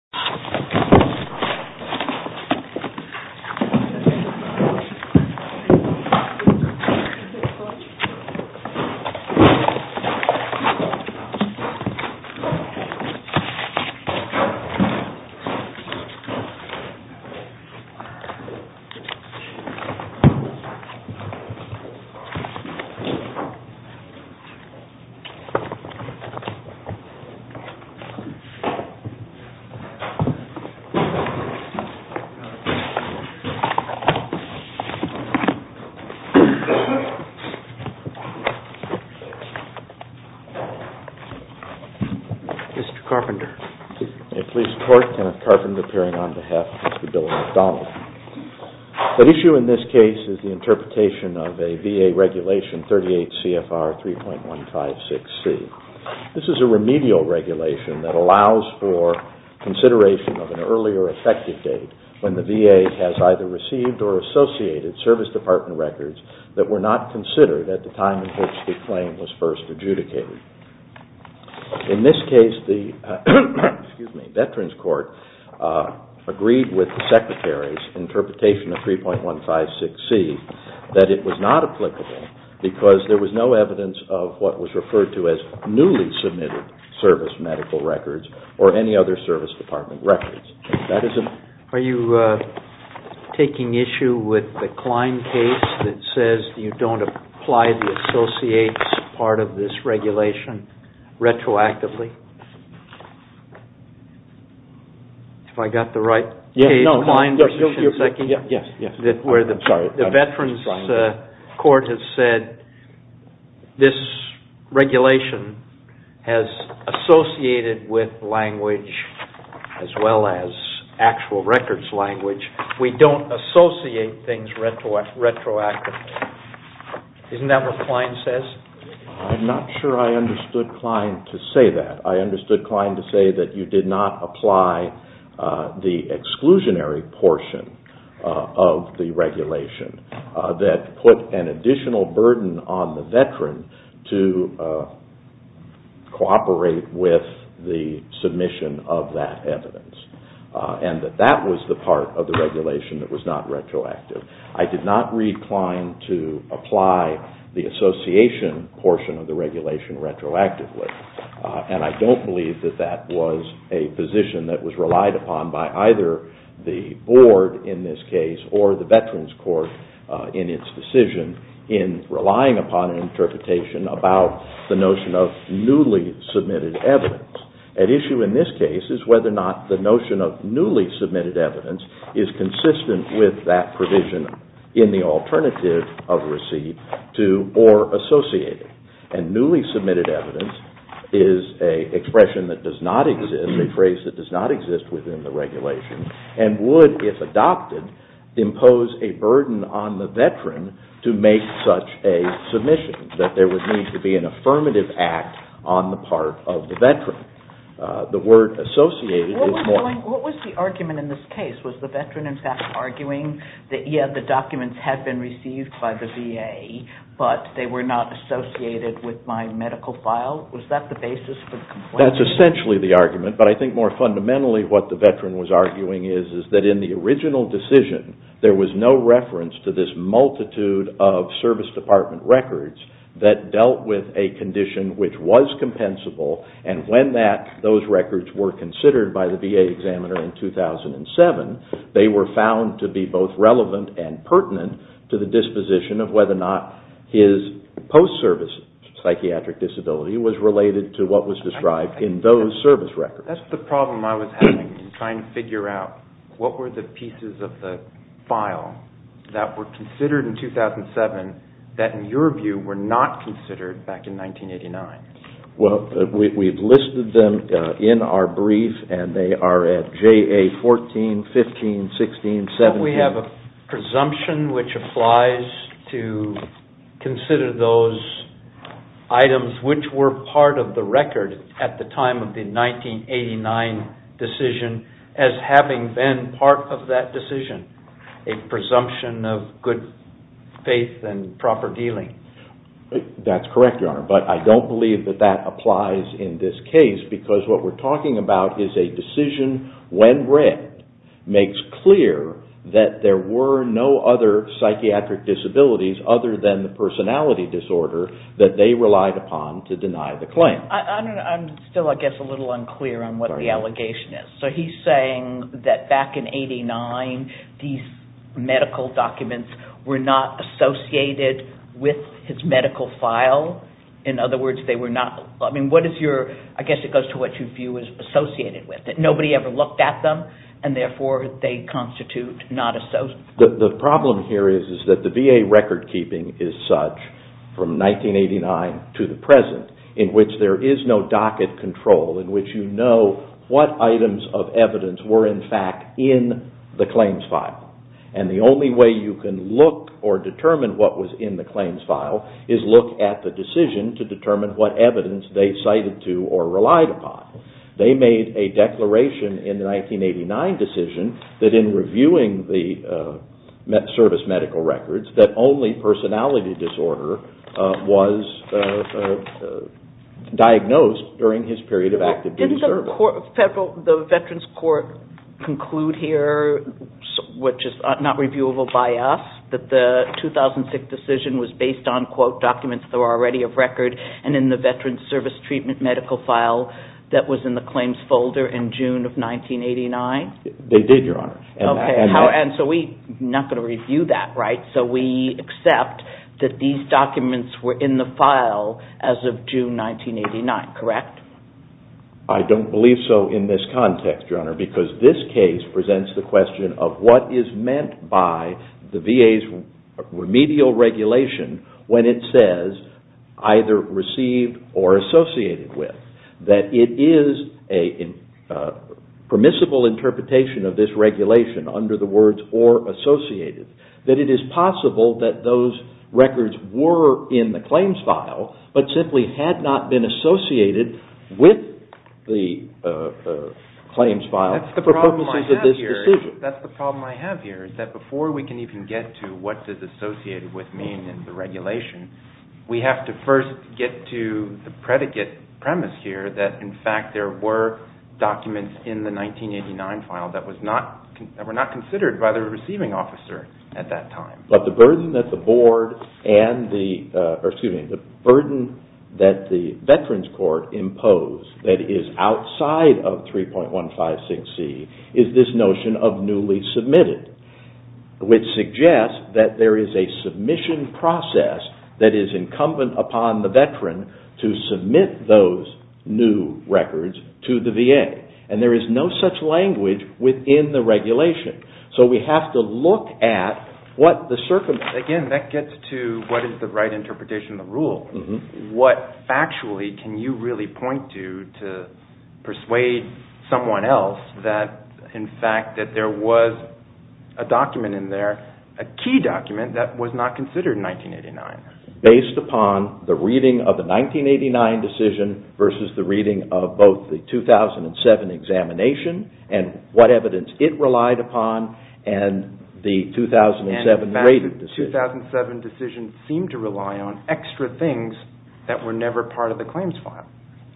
Shinseki is a large shopping district in Shinseki Prefecture, Japan. The issue in this case is the interpretation of a VA regulation 38 CFR 3.156C. This is a remedial regulation that allows for consideration of an earlier effective date when the VA has either received or associated service department records that were not considered at the time in which the claim was first adjudicated. In this case, the Veterans Court agreed with the Secretary's interpretation of 3.156C that it was not applicable because there was no submitted service medical records or any other service department records. Are you taking issue with the Klein case that says you don't apply the associates part of this regulation retroactively? If I got the right case, Klein v. Shinseki, where the Veterans Court has said this regulation has associated with language as well as actual records language, we don't associate things retroactively. Isn't that what Klein says? I'm not sure I understood Klein to say that. I understood Klein to say that you did not portion of the regulation that put an additional burden on the veteran to cooperate with the submission of that evidence and that that was the part of the regulation that was not retroactive. I did not read Klein to apply the association portion of the regulation retroactively and I don't believe that that was a position that was relied upon by either the board in this case or the Veterans Court in its decision in relying upon an interpretation about the notion of newly submitted evidence. At issue in this case is whether or not the notion of newly submitted evidence is consistent with that provision in the alternative of receipt to or associated. And newly submitted evidence is an expression that does not exist, a phrase that does not exist within the regulation and would, if adopted, impose a burden on the veteran to make such a submission, that there would need to be an affirmative act on the part of the veteran. The word associated is more... What was the argument in this case? Was the veteran in fact arguing that, yeah, the documents have been received by the VA, but they were not associated with my medical file? Was that the basis for the complaint? That's essentially the argument, but I think more fundamentally what the veteran was arguing is that in the original decision, there was no reference to this multitude of service department records that dealt with a condition which was compensable and when those records were considered by the VA examiner in 2007, they were found to be both relevant and pertinent to the disposition of whether or not his post-service psychiatric disability was related to what was described in those service records. That's the problem I was having in trying to figure out what were the pieces of the file that were considered in 2007 that, in your view, were not considered back in 1989. Well, we've listed them in our brief and they are at JA 14, 15, 16, 17... Don't we have a presumption which applies to consider those items which were part of the record at the time of the 1989 decision as having been part of that decision, a presumption of good faith and proper dealing? That's correct, Your Honor, but I don't believe that that applies in this case because what we're talking about is a decision when read makes clear that there were no other psychiatric disabilities other than the personality disorder that they relied upon to deny the claim. I'm still, I guess, a little unclear on what the allegation is. So he's saying that back in 1989, these medical documents were not associated with his medical file? In other words, they were not... I mean, what is your... I guess it goes to what you view as associated with it. Nobody ever looked at them and, therefore, they constitute not associated. The problem here is that the VA record keeping is such from 1989 to the present in which there is no docket control in which you know what items of evidence were, in fact, in the claims file. And the only way you can look or determine what was in the claims file is look at the decision to determine what evidence they cited to or relied upon. They made a declaration in the 1989 decision that in reviewing the service medical records that only personality disorder was diagnosed during his period of active duty service. Does the Veterans Court conclude here, which is not reviewable by us, that the 2006 decision was based on, quote, documents that were already of record and in the Veterans Service Treatment medical file that was in the claims folder in June of 1989? They did, Your Honor. Okay. And so we're not going to review that, right? So we accept that these documents were in the file as of June 1989, correct? I don't believe so in this context, Your Honor, because this case presents the question of what is meant by the VA's remedial regulation when it says either received or associated with. That it is a permissible interpretation of this regulation under the words or associated. That it is possible that those records were in the claims file but simply had not been associated with the claims file for purposes of this decision. That's the problem I have here is that before we can even get to what does associated with mean in the regulation, we have to first get to the predicate premise here that, in fact, there were documents in the 1989 file that were not considered by the receiving officer at that time. But the burden that the board and the, or excuse me, the burden that the Veterans Court imposed that is outside of 3.156c is this notion of newly submitted. Which suggests that there is a submission process that is incumbent upon the veteran to submit those new records to the VA. And there is no such language within the regulation. So we have to look at what the circumstance. Again, that gets to what is the right interpretation of the rule. What factually can you really point to to persuade someone else that, in fact, that there was a document in there, a key document that was not considered in 1989? Based upon the reading of the 1989 decision versus the reading of both the 2007 examination and what evidence it relied upon and the 2007 rated decision. In fact, the 2007 decision seemed to rely on extra things that were never part of the claims file.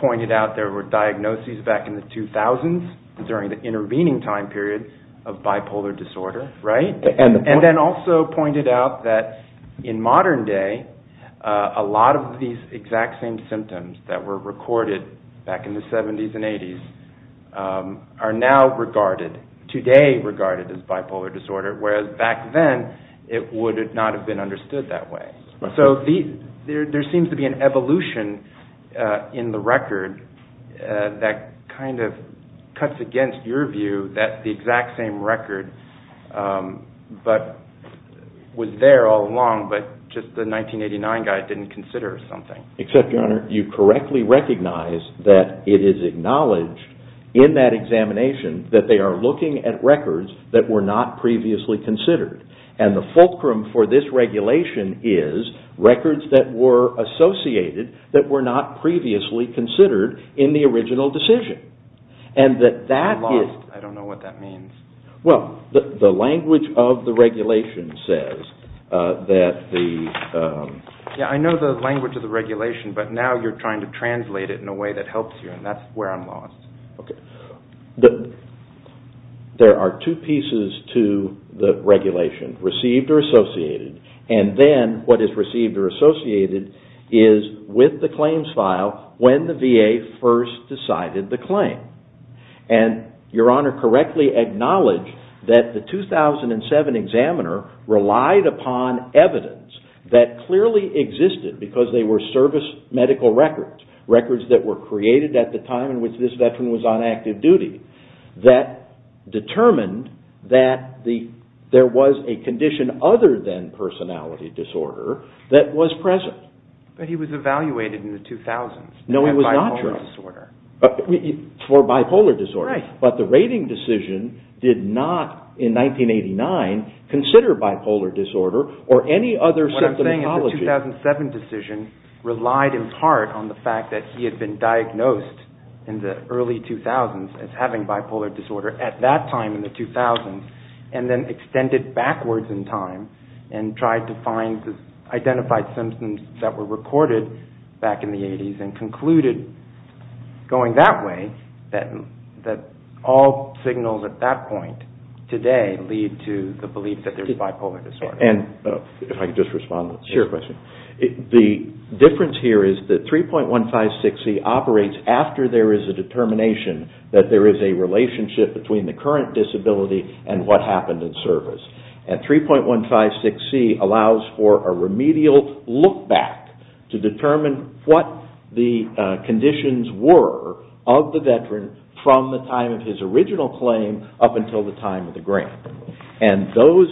Pointed out there were diagnoses back in the 2000s during the intervening time period of bipolar disorder. And then also pointed out that in modern day, a lot of these exact same symptoms that were recorded back in the 70s and 80s are now regarded, today regarded as bipolar disorder, whereas back then it would not have been understood that way. So there seems to be an evolution in the record that kind of cuts against your view that the exact same record was there all along, but just the 1989 guy didn't consider something. Except, Your Honor, you correctly recognize that it is acknowledged in that examination that they are looking at records that were not previously considered. And the fulcrum for this regulation is records that were associated that were not previously considered in the original decision. I'm lost. I don't know what that means. Well, the language of the regulation says that the... Yeah, I know the language of the regulation, but now you're trying to translate it in a way that helps you and that's where I'm lost. Okay. There are two pieces to the regulation, received or associated. And then what is received or associated is with the claims file when the VA first decided the claim. And Your Honor correctly acknowledged that the 2007 examiner relied upon evidence that clearly existed because they were service medical records, records that were created at the time in which this veteran was on active duty, that determined that there was a condition other than personality disorder that was present. But he was evaluated in the 2000s. No, it was not true. For bipolar disorder. For bipolar disorder. Right. But the rating decision did not, in 1989, consider bipolar disorder or any other symptomatology. What I'm saying is the 2007 decision relied in part on the fact that he had been diagnosed in the early 2000s as having bipolar disorder at that time in the 2000s and then extended backwards in time and tried to find identified symptoms that were recorded back in the 80s and concluded going that way that all signals at that point today lead to the belief that there's bipolar disorder. And if I could just respond to your question. Yes. The difference here is that 3.156C operates after there is a determination that there is a relationship between the current disability and what happened in service. And 3.156C allows for a remedial look back to determine what the conditions were of the veteran from the time of his original claim up until the time of the grant. And those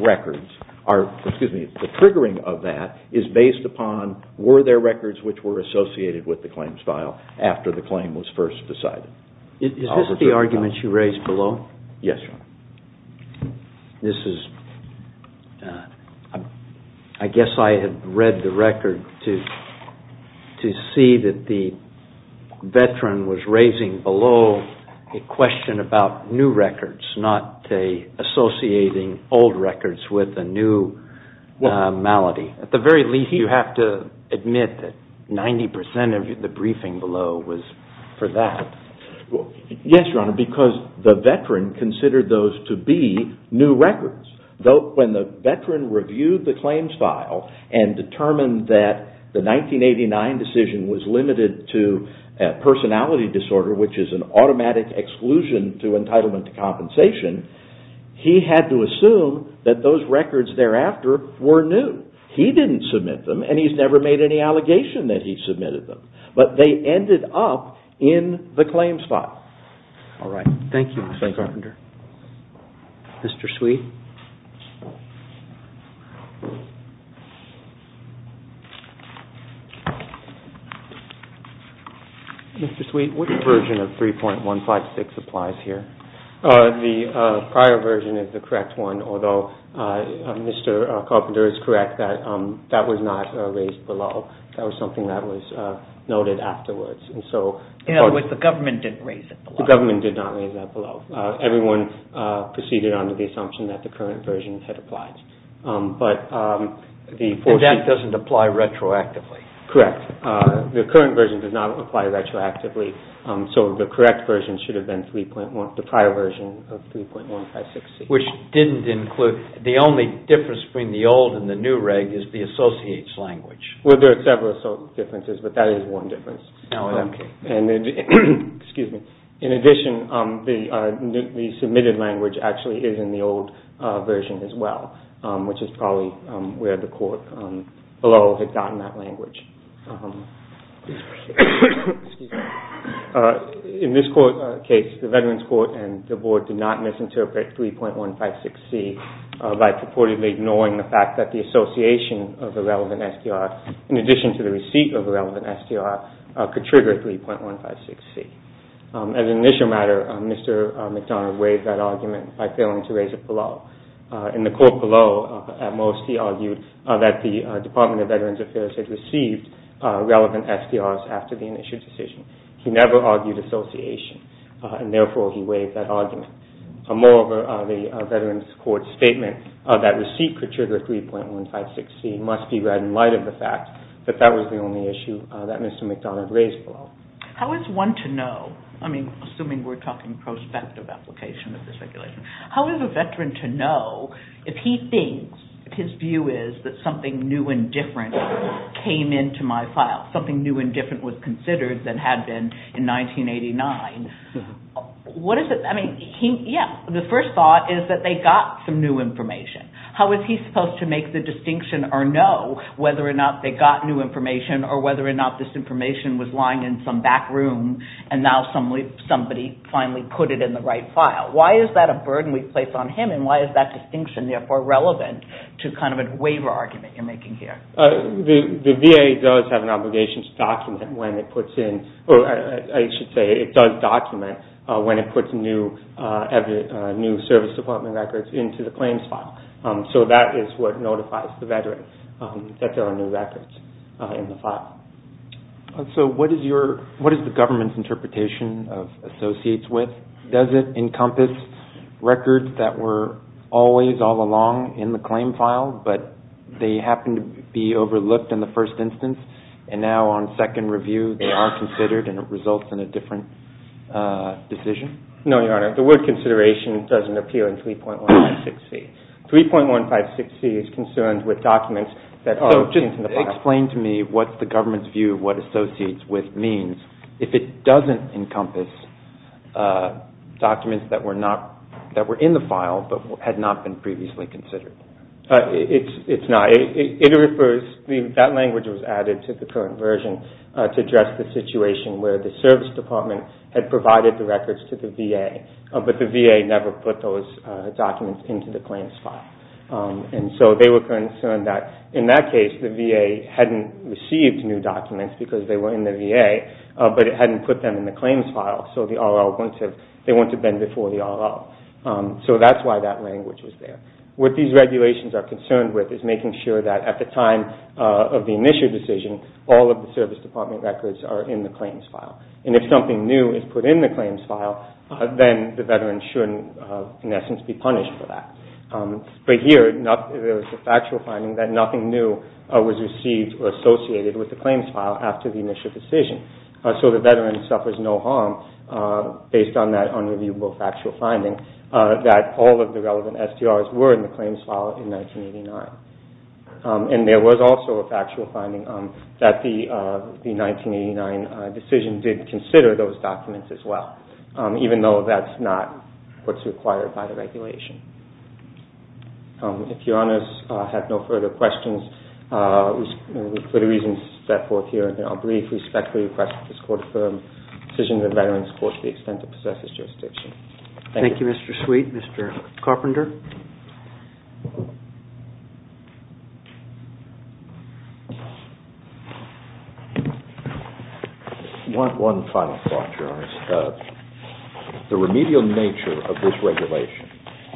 records are, excuse me, the triggering of that is based upon were there records which were associated with the claims file after the claim was first decided. Is this the argument you raised below? Yes, Your Honor. This is, I guess I had read the record to see that the veteran was raising below a question about new records not associating old records with a new malady. At the very least, you have to admit that 90% of the briefing below was for that. Yes, Your Honor, because the veteran considered those to be new records. When the veteran reviewed the claims file and determined that the 1989 decision was limited to personality disorder which is an automatic exclusion to entitlement to compensation, he had to assume that those records thereafter were new. He didn't submit them and he's never made any allegation that he submitted them. But they ended up in the claims file. All right. Thank you, Mr. Carpenter. Mr. Sweet. Mr. Sweet, what version of 3.156 applies here? The prior version is the correct one, although Mr. Carpenter is correct that that was not raised below. That was something that was noted afterwards. In other words, the government didn't raise it below. The government did not raise that below. Everyone proceeded under the assumption that that was the case. And that doesn't apply retroactively? Correct. The current version does not apply retroactively. So the correct version should have been the prior version of 3.156. Which didn't include the only difference between the old and the new reg is the associates language. Well, there are several differences, but that is one difference. In addition, the submitted language actually is in the old version as well, which is probably where the court below had gotten that language. In this case, the Veterans Court and the Board did not misinterpret 3.156C by purportedly ignoring the fact that the association of the relevant STR, could trigger 3.156C. As an initial matter, Mr. McDonough waived that argument by failing to raise it below. In the court below, at most he argued that the Department of Veterans Affairs had received relevant STRs after the initial decision. He never argued association, and therefore he waived that argument. Moreover, the Veterans Court statement that receipt could trigger 3.156C must be read in light of the fact that that was the only issue that Mr. McDonough raised below. How is one to know, I mean, assuming we're talking prospective application of this regulation, how is a veteran to know if he thinks, if his view is that something new and different came into my file, something new and different was considered that had been in 1989, what is it, I mean, yeah, the first thought is that they got some new information. How is he supposed to make the distinction or know whether or not they got new information or whether or not this information was lying in some back room, and now somebody finally put it in the right file? Why is that a burden we place on him, and why is that distinction therefore relevant to kind of a waiver argument you're making here? The VA does have an obligation to document when it puts in, or I should say it does document when it puts new service department records into the claims file. So that is what notifies the veteran that there are new records in the file. So what is the government's interpretation of associates with? Does it encompass records that were always all along in the claim file, but they happen to be overlooked in the first instance, and now on second review they are considered and it results in a different decision? No, Your Honor, the word consideration doesn't appear in 3.156C. 3.156C is concerned with documents that are in the file. So just explain to me what the government's view of what associates with means. If it doesn't encompass documents that were in the file but had not been previously considered. It's not. That language was added to the current version to address the situation where the service department had provided the records to the VA, but the VA never put those documents into the claims file. So they were concerned that in that case the VA hadn't received new documents because they were in the VA, but it hadn't put them in the claims file, so they wouldn't have been before the RL. So that's why that language was there. What these regulations are concerned with is making sure that at the time of the initial decision, all of the service department records are in the claims file. And if something new is put in the claims file, then the veteran shouldn't in essence be punished for that. But here there is a factual finding that nothing new was received or associated with the claims file after the initial decision. So the veteran suffers no harm based on that unreviewable factual finding that all of the relevant STRs were in the claims file in 1989. And there was also a factual finding that the 1989 decision did consider those documents as well, even though that's not what's required by the regulation. If Your Honors have no further questions, for the reasons set forth here, I'll briefly respectfully request that this Court affirm decisions of veterans Thank you, Mr. Sweet. Mr. Carpenter? One final thought, Your Honors. The remedial nature of this regulation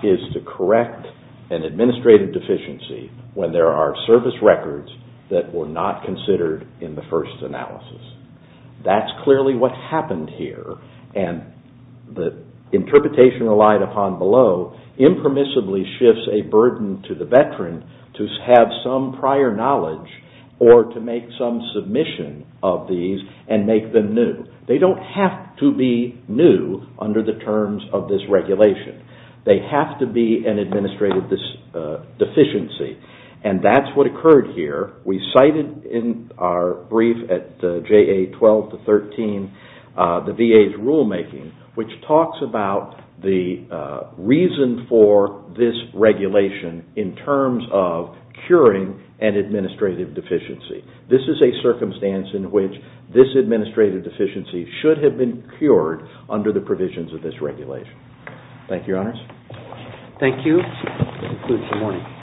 is to correct an administrative deficiency when there are service records that were not considered in the first analysis. That's clearly what happened here, and the interpretation relied upon below impermissibly shifts a burden to the veteran to have some prior knowledge or to make some submission of these and make them new. They don't have to be new under the terms of this regulation. They have to be an administrative deficiency, and that's what occurred here. We cited in our brief at JA 12-13 the VA's rulemaking, which talks about the reason for this regulation in terms of curing an administrative deficiency. This is a circumstance in which this administrative deficiency should have been cured under the provisions of this regulation. Thank you, Your Honors. Thank you.